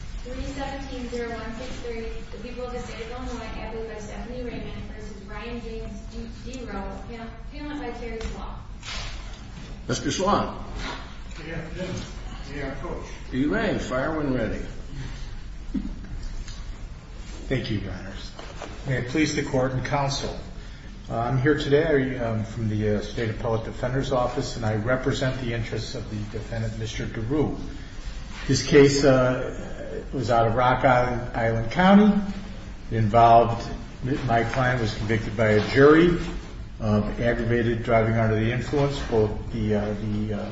317-0163, the people of the state of Illinois, added by Stephanie Raymond v. Ryan James D. Rowell, paneled by Terry Swann. Mr. Swann. Good afternoon. May I approach? You may. Fire when ready. Thank you, Your Honors. May it please the Court and Counsel. I'm here today from the State Appellate Defender's Office and I represent the interests of the defendant, Mr. Deroo. This case was out of Rock Island County. My client was convicted by a jury of aggravated driving under the influence, both the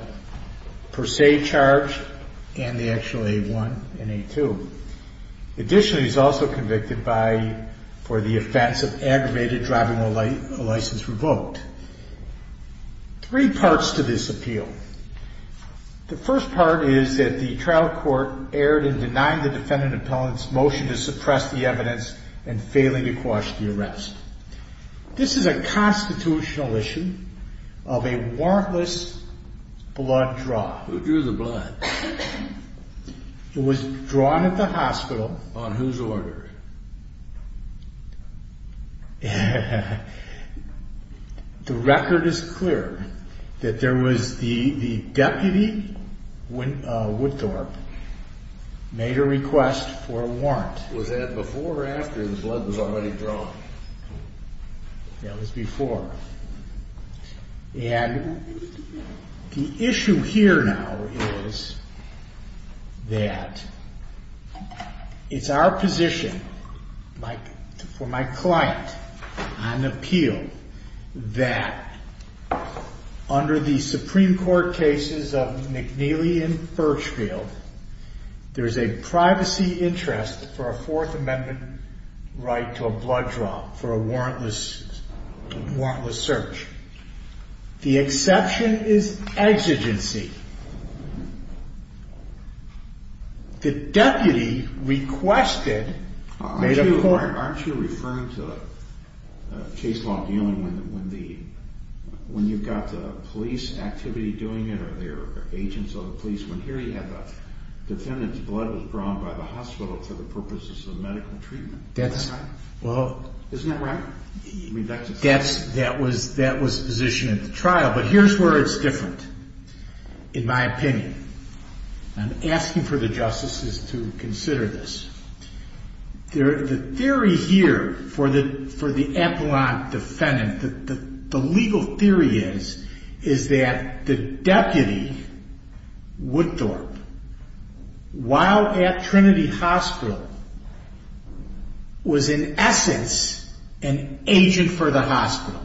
per se charge and the actual A1 and A2. Additionally, he's also convicted for the offense of aggravated driving while license revoked. Three parts to this appeal. The first part is that the trial court erred in denying the defendant appellant's motion to suppress the evidence and failing to quash the arrest. This is a constitutional issue of a warrantless blood draw. Who drew the blood? It was drawn at the hospital. On whose order? The record is clear that there was the deputy, Woodthorpe, made a request for a warrant. Was that before or after the blood was already drawn? That was before. And the issue here now is that it's our position, for my client on appeal, that under the Supreme Court cases of McNeely and Burchfield, there's a privacy interest for a Fourth Amendment right to a blood draw for a warrantless search. The exception is exigency. The deputy requested a warrant. Aren't you referring to a case law dealing when you've got the police activity doing it or there are agents of the police? When here you have the defendant's blood was drawn by the hospital for the purposes of medical treatment. Isn't that right? That was the position at the trial. But here's where it's different, in my opinion. I'm asking for the justices to consider this. The theory here for the appellant defendant, the legal theory is, is that the deputy, Woodthorpe, while at Trinity Hospital, was in essence an agent for the hospital.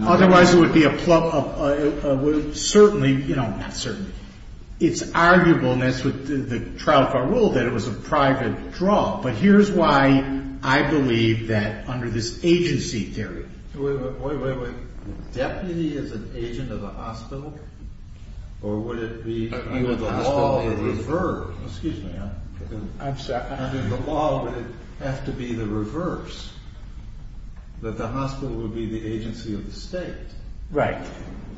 Otherwise, it would be a plug. Certainly, you know, not certainly. It's arguable, and that's what the trial for rule, that it was a private draw. But here's why I believe that under this agency theory. Wait, wait, wait, wait. Deputy is an agent of the hospital? Or would it be the law? Excuse me. Under the law, would it have to be the reverse? That the hospital would be the agency of the state? Right.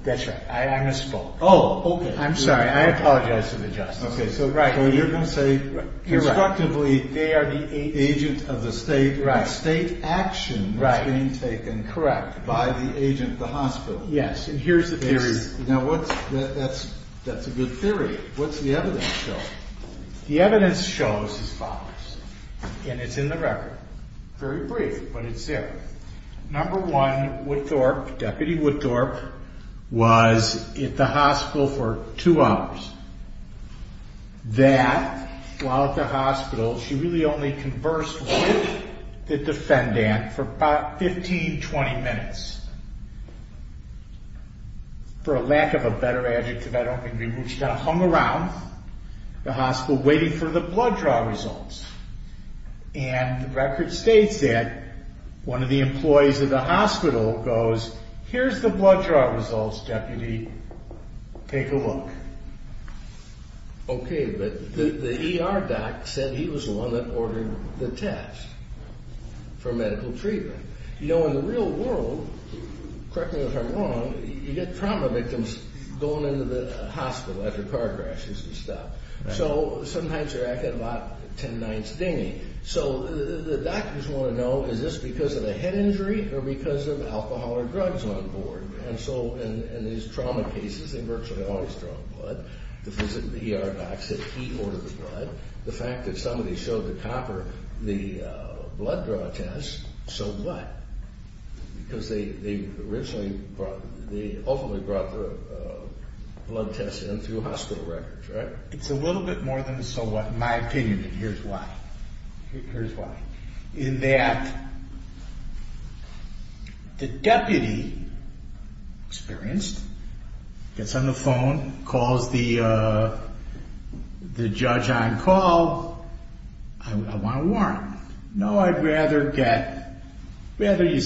That's right. I misspoke. Oh, okay. I'm sorry. I apologize to the justices. Okay, so you're going to say, constructively, they are the agent of the state, and the state action was being taken by the agent of the hospital. Yes, and here's the theory. Now, that's a good theory. What's the evidence show? The evidence shows as follows, and it's in the record. Very brief, but it's there. Number one, Woodthorpe, Deputy Woodthorpe, was at the hospital for two hours. That, while at the hospital, she really only conversed with the defendant for about 15, 20 minutes. For a lack of a better adjective, I don't think we would. She kind of hung around the hospital waiting for the blood draw results. And the record states that one of the employees of the hospital goes, here's the blood draw results, Deputy. Take a look. Okay, but the ER doc said he was the one that ordered the test for medical treatment. You know, in the real world, correct me if I'm wrong, you get trauma victims going into the hospital after car crashes and stuff. So, sometimes you're actually at about 10 nights dingy. So, the doctors want to know, is this because of a head injury or because of alcohol or drugs on board? And so, in these trauma cases, they virtually always draw blood. The ER doc said he ordered the blood. The fact that somebody showed the copper the blood draw test, so what? Because they ultimately brought the blood test in through hospital records, right? It's a little bit more than a so what, in my opinion, and here's why. Here's why. In that, the deputy experienced gets on the phone, calls the judge on call. I want a warrant. No, I'd rather get, rather we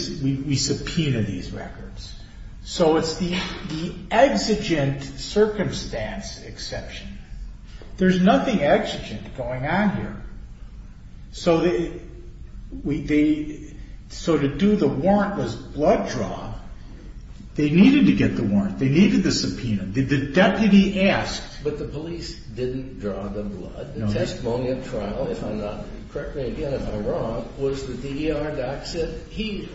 subpoena these records. So, it's the exigent circumstance exception. There's nothing exigent going on here. So, to do the warrantless blood draw, they needed to get the warrant. They needed the subpoena. The deputy asked. But the police didn't draw the blood. The testimony of trial, if I'm not, correct me again if I'm wrong, was that the ER doc said he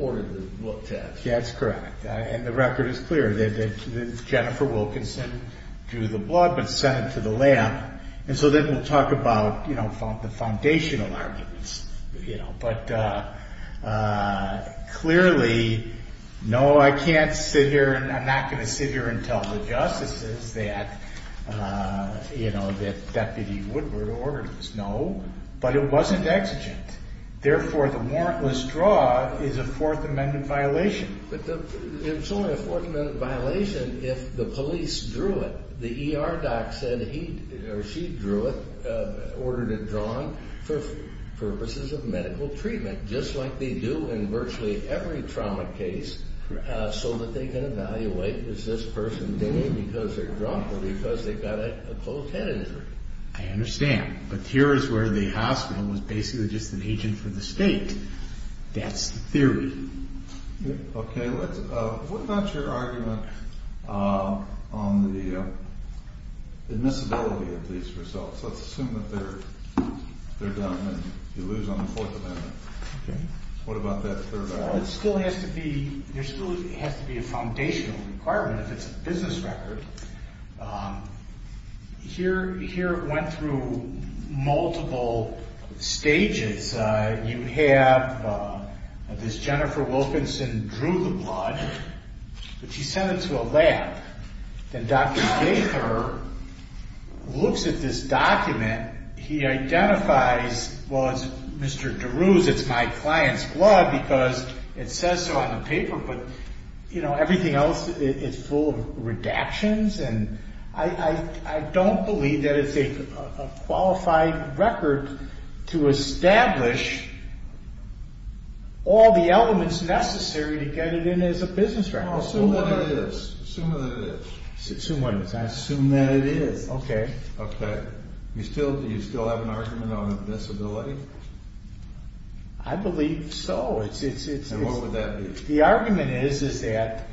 ordered the blood test. Yeah, that's correct. And the record is clear that Jennifer Wilkinson drew the blood but sent it to the lab. And so, then we'll talk about the foundational arguments. But clearly, no, I can't sit here and I'm not going to sit here and tell the justices that Deputy Woodward ordered this. No, but it wasn't exigent. Therefore, the warrantless draw is a Fourth Amendment violation. But it's only a Fourth Amendment violation if the police drew it. The ER doc said he or she drew it, ordered it drawn, for purposes of medical treatment, just like they do in virtually every trauma case so that they can evaluate, is this person dingy because they're drunk or because they've got a closed head injury. I understand. But here is where the hospital was basically just an agent for the state. That's the theory. Okay. What about your argument on the admissibility of these results? Let's assume that they're done and you lose on the Fourth Amendment. Okay. What about that third argument? There still has to be a foundational requirement if it's a business record. Here it went through multiple stages. You have this Jennifer Wilkinson drew the blood, but she sent it to a lab. Then Dr. Baker looks at this document. He identifies, well, it's Mr. DeRue's, it's my client's blood because it says so on the paper, but everything else is full of redactions, and I don't believe that it's a qualified record to establish all the elements necessary to get it in as a business record. Assume that it is. I assume that it is. Okay. Okay. Do you still have an argument on admissibility? I believe so. And what would that be? The argument is that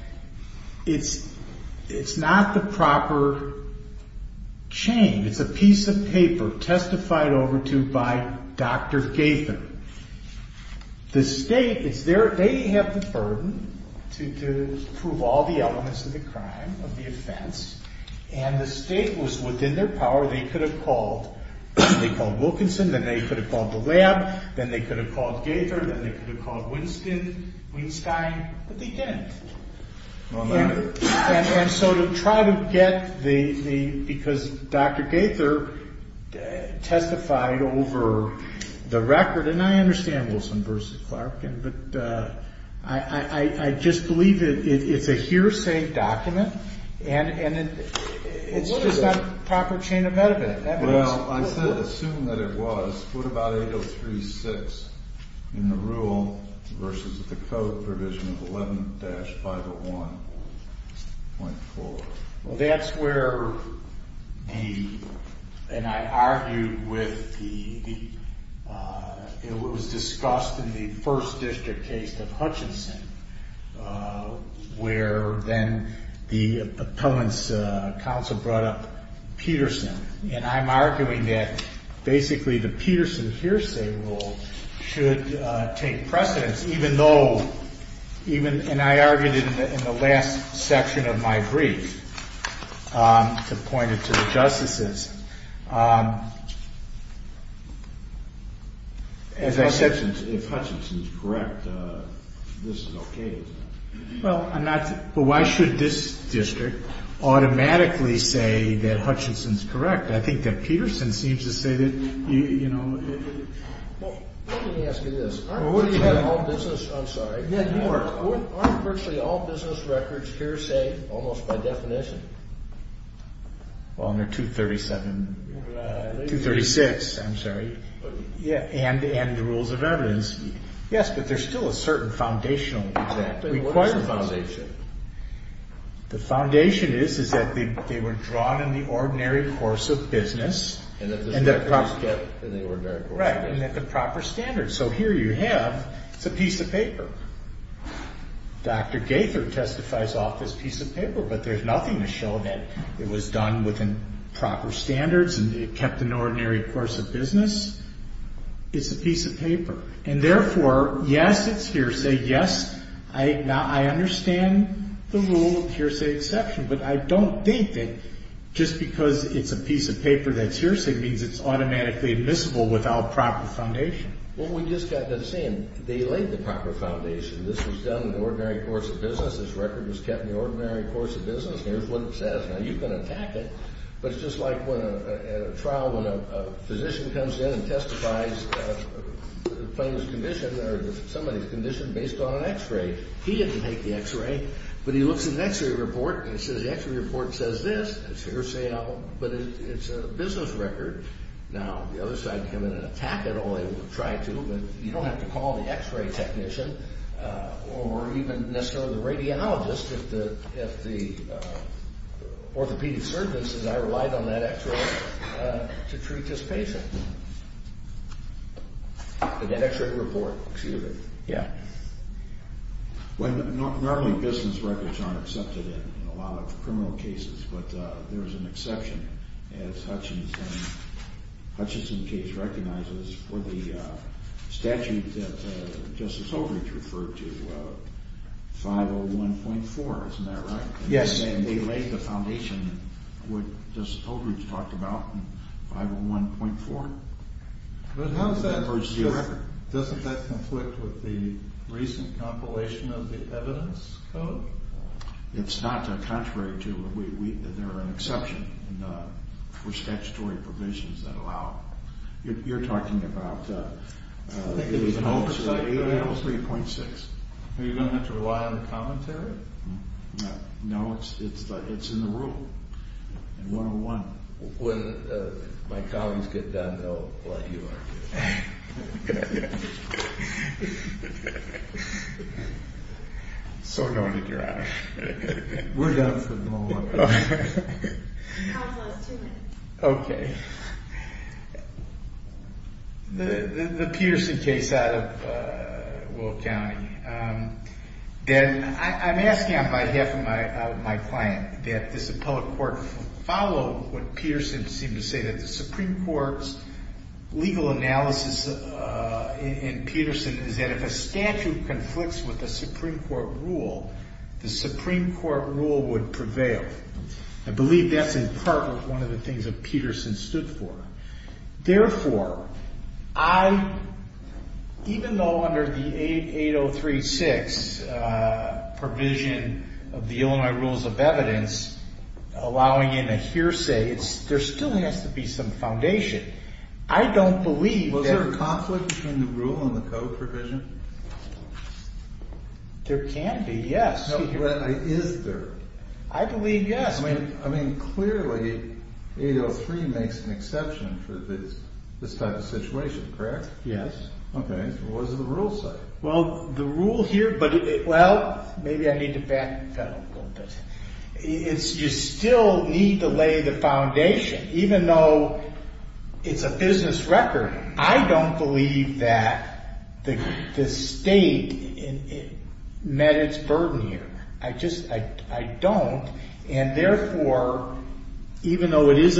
it's not the proper chain. It's a piece of paper testified over to by Dr. Gaither. The state, they have the burden to prove all the elements of the crime, of the offense, and the state was within their power. They could have called Wilkinson, then they could have called the lab, then they could have called Gaither, then they could have called Winstein, but they didn't. And so to try to get the, because Dr. Gaither testified over the record, and I understand Wilson v. Clark, but I just believe it's a hearsay document, and it's just not a proper chain of evidence. Well, I said assume that it was. What about 803.6 in the rule versus the code provision of 11-501.4? Well, that's where the, and I argued with the, it was discussed in the first district case of Hutchinson, where then the appellant's counsel brought up Peterson, and I'm arguing that basically the Peterson hearsay rule should take precedence, even though, and I argued it in the last section of my brief to point it to the justices. As I said, if Hutchinson's correct, this is okay, isn't it? Well, I'm not, but why should this district automatically say that Hutchinson's correct? I think that Peterson seems to say that, you know. Well, let me ask you this. Aren't virtually all business, I'm sorry. Yeah, you are. Aren't virtually all business records hearsay almost by definition? Well, under 237, 236, I'm sorry. And the rules of evidence. Yes, but there's still a certain foundational requirement. What is the foundation? The foundation is that they were drawn in the ordinary course of business. And that the standards fit in the ordinary course of business. Right, and that the proper standards. So here you have, it's a piece of paper. Dr. Gaither testifies off this piece of paper, but there's nothing to show that it was done within proper standards and it kept an ordinary course of business. It's a piece of paper. And therefore, yes, it's hearsay. Yes, I understand the rule of hearsay exception, but I don't think that just because it's a piece of paper that's hearsay means it's automatically admissible without proper foundation. Well, we just got to the same. They laid the proper foundation. This was done in the ordinary course of business. This record was kept in the ordinary course of business. And here's what it says. Now, you can attack it, but it's just like when a trial, when a physician comes in and testifies playing this condition or somebody's condition based on an x-ray. He didn't take the x-ray, but he looks at the x-ray report and it says the x-ray report says this. It's hearsay, but it's a business record. Now, the other side can come in and attack it, or they will try to, but you don't have to call the x-ray technician or even necessarily the radiologist if the orthopedic surgeon says, I relied on that x-ray to treat this patient. That x-ray report, excuse me. Yeah. Normally, business records aren't accepted in a lot of criminal cases, but there is an exception, as Hutchison's case recognizes, for the statute that Justice Holdrege referred to, 501.4. Isn't that right? Yes. And they laid the foundation, what Justice Holdrege talked about, in 501.4. But how does that work? Doesn't that conflict with the recent compilation of the evidence code? It's not contrary to it. There are exceptions for statutory provisions that allow it. You're talking about 503.6. Are you going to have to rely on the commentary? No, it's in the rule, in 101. When my colleagues get done, they'll let you know. Okay. Okay. So noted, Your Honor. We're done for the moment. Okay. The Peterson case out of Will County, I'm asking on behalf of my client that this appellate court follow what in Peterson is that if a statute conflicts with a Supreme Court rule, the Supreme Court rule would prevail. I believe that's in part one of the things that Peterson stood for. Therefore, even though under the 803.6 provision of the Illinois Rules of Evidence, allowing in a hearsay, there still has to be some foundation. I don't believe that. Was there a conflict between the rule and the code provision? There can be, yes. Is there? I believe yes. I mean, clearly 803 makes an exception for this type of situation, correct? Yes. Okay. What does the rule say? Well, the rule here, but well, maybe I need to back that up a little bit. You still need to lay the foundation. Even though it's a business record, I don't believe that the state met its burden here. I don't, and therefore, even though it is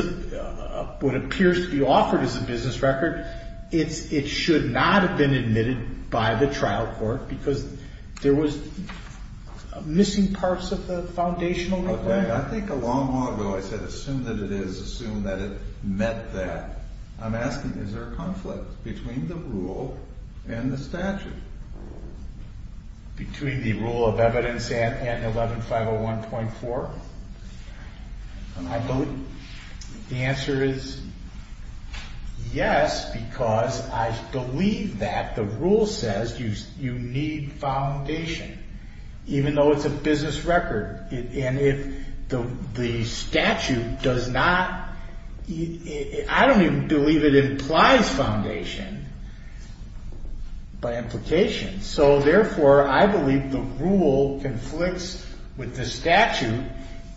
what appears to be offered as a business record, it should not have been admitted by the trial court because there was missing parts of the foundational. Okay. I think a long, long ago I said assume that it is, assume that it met that. I'm asking, is there a conflict between the rule and the statute? Between the rule of evidence and 11501.4? I believe the answer is yes, because I believe that the rule says you need foundation, even though it's a business record. And if the statute does not, I don't even believe it implies foundation by implication. So therefore, I believe the rule conflicts with the statute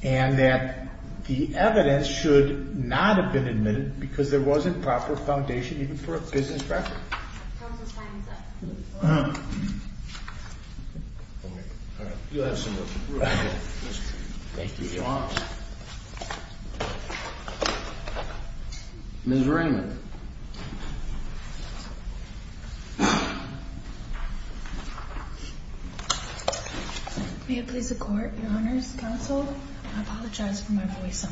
and that the evidence should not have been admitted because there wasn't proper foundation even for a business record. Counsel's time is up. Ms. Raymond. May it please the court, your honors, counsel, I apologize for my voice. I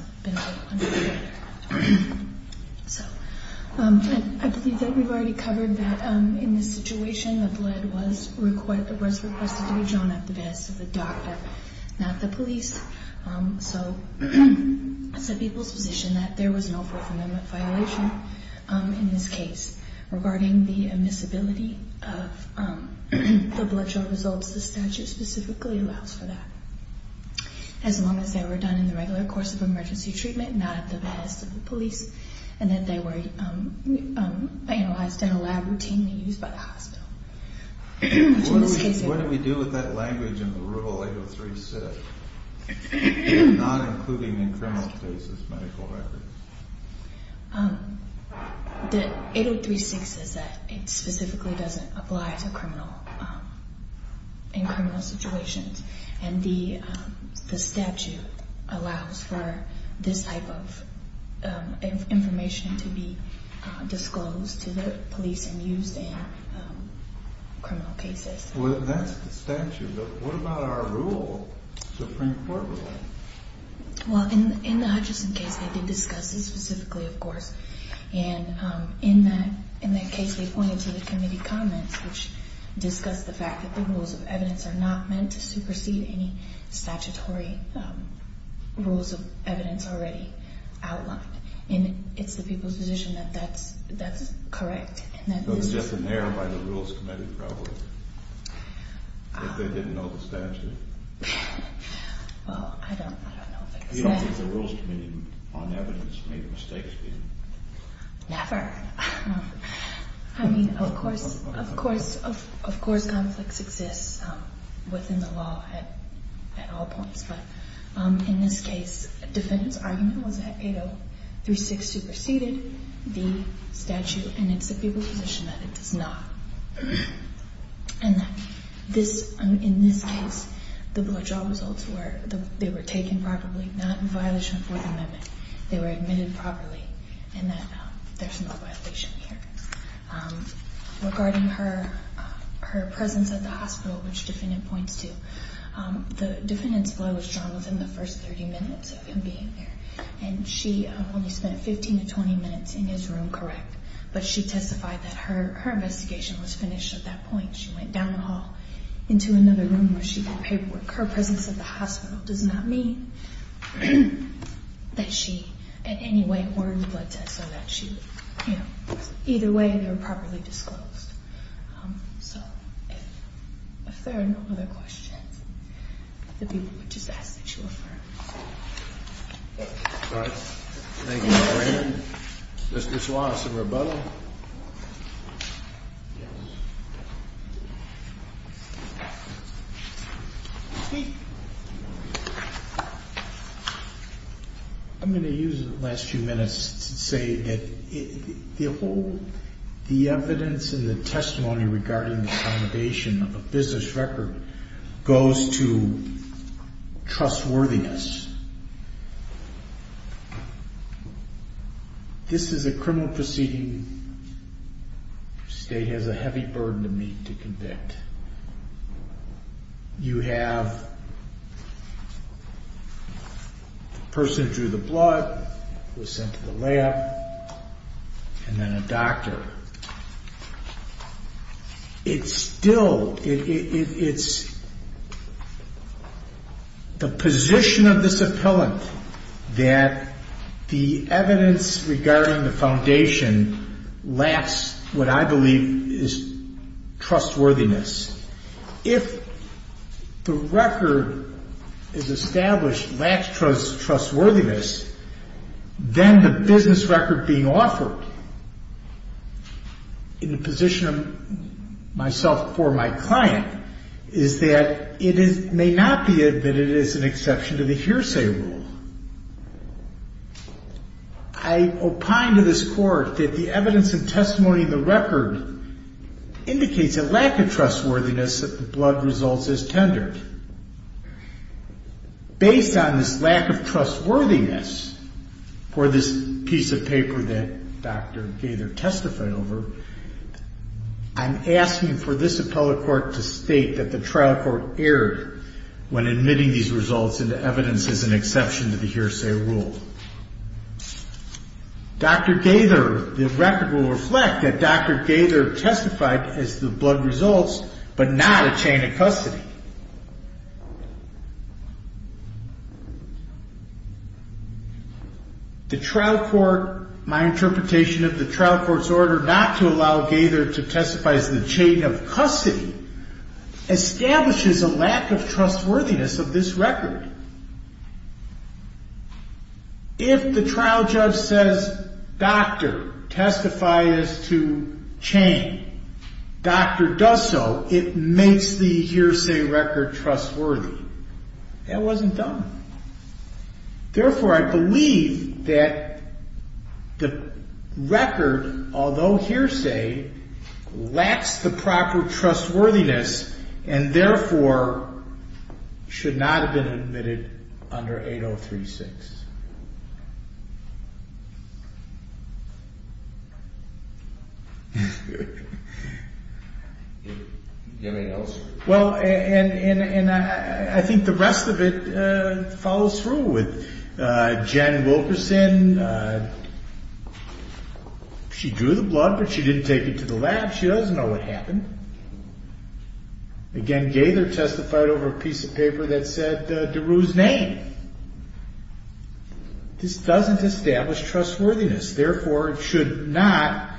believe that we've already covered that in this situation, the blood was requested to be drawn at the behest of the doctor, not the police. So it's the people's position that there was no forthcoming violation in this case regarding the admissibility of the blood draw results. The statute specifically allows for that. As long as they were done in the regular course of emergency treatment, not at the behest of the police, and that they were analyzed in a lab routinely used by the hospital. What do we do with that language in the rule 803-6, not including in criminal cases medical records? The 803-6 says that it specifically doesn't apply to criminal, in criminal situations. And the statute allows for this type of information to be disclosed to the police and used in criminal cases. Well, that's the statute, but what about our rule, Supreme Court rule? Well, in the Hutchinson case, they did discuss this specifically, of course. And in that case, they pointed to the committee comments, which discussed the fact that the rules of evidence are not meant to supersede any statutory rules of evidence already outlined. And it's the people's position that that's correct. It was just an error by the rules committee, probably. That they didn't know the statute. Well, I don't know if it's that. You don't think the rules committee on evidence made mistakes, do you? Never. I mean, of course, of course, of course conflicts exist within the law at all points. But in this case, defendant's argument was that 803-6 superseded the statute. And it's the people's position that it does not. And that this, in this case, the blood draw results were, they were taken properly, not in violation of Fourth Amendment. They were admitted properly, and that there's no violation here. Regarding her presence at the hospital, which defendant points to, the defendant's blood was drawn within the first 30 minutes of him being there. And she only spent 15 to 20 minutes in his room, correct? But she testified that her investigation was finished at that point. She went down the hall into another room where she got paperwork. Her presence at the hospital does not mean that she, in any way, ordered the blood test or that she, you know. Either way, they were properly disclosed. So, if there are no other questions, if the people would just ask that you affirm. All right. Thank you. Mr. Suarez in rebuttal. I think I'm going to use the last few minutes to say that the whole, the evidence and the testimony regarding the accommodation of a business record goes to trustworthiness. This is a criminal proceeding. State has a heavy burden to meet to convict. And you have the person who drew the blood, who was sent to the lab, and then a doctor. It's still, it's the position of this appellant that the evidence regarding the foundation lacks what I believe is trustworthiness. If the record is established lacks trustworthiness, then the business record being offered in the position of myself before my client is that it may not be admitted as an exception to the hearsay rule. I opine to this Court that the evidence and testimony in the record indicates a lack of trustworthiness that the blood results as tendered. Based on this lack of trustworthiness for this piece of paper that Dr. Gaither testified over, I'm asking for this appellate court to state that the trial court erred when admitting these results into evidence as an exception to the hearsay rule. Dr. Gaither, the record will reflect that Dr. Gaither testified as the blood results, but not a chain of custody. The trial court, my interpretation of the trial court's order not to allow Gaither to testify as the chain of custody establishes a lack of trustworthiness of this record. If the trial judge says, doctor, testify as to chain, doctor does so, it makes the hearsay record trustworthy. That wasn't done. Therefore, I believe that the record, although hearsay, lacks the proper trustworthiness and therefore should not have been admitted under 8036. Do you have anything else? Well, and I think the rest of it follows through with Jen Wilkerson. She drew the blood, but she didn't take it to the lab. She doesn't know what happened. Again, Gaither testified over a piece of paper that said DeRue's name. This doesn't establish trustworthiness. Therefore, it should not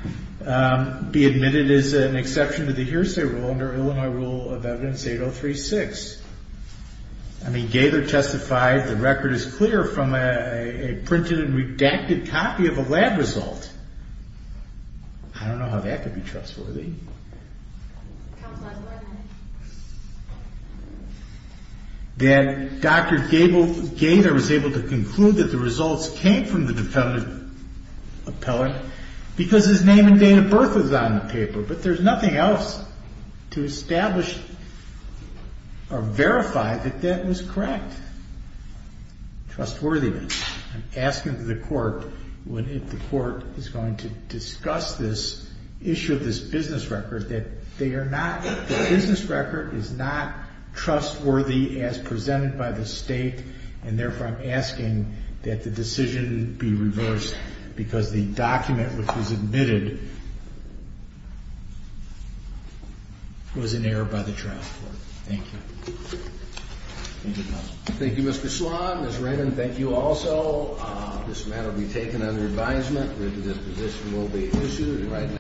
be admitted as an exception to the hearsay rule under Illinois Rule of Evidence 8036. I mean, Gaither testified the record is clear from a printed and redacted copy of a lab result. I don't know how that could be trustworthy. Counsel has one minute. That Dr. Gaither was able to conclude that the results came from the defendant appellant because his name and date of birth was on the paper. But there's nothing else to establish or verify that that was correct. Trustworthiness. I'm asking the court, when the court is going to discuss this issue of this business record, that the business record is not trustworthy as presented by the state and therefore I'm asking that the decision be reversed because the document which was admitted was an error by the trial court. Thank you. Thank you, Mr. Sloan. Ms. Raymond, thank you also. This matter will be taken under advisement. This position will be issued right now.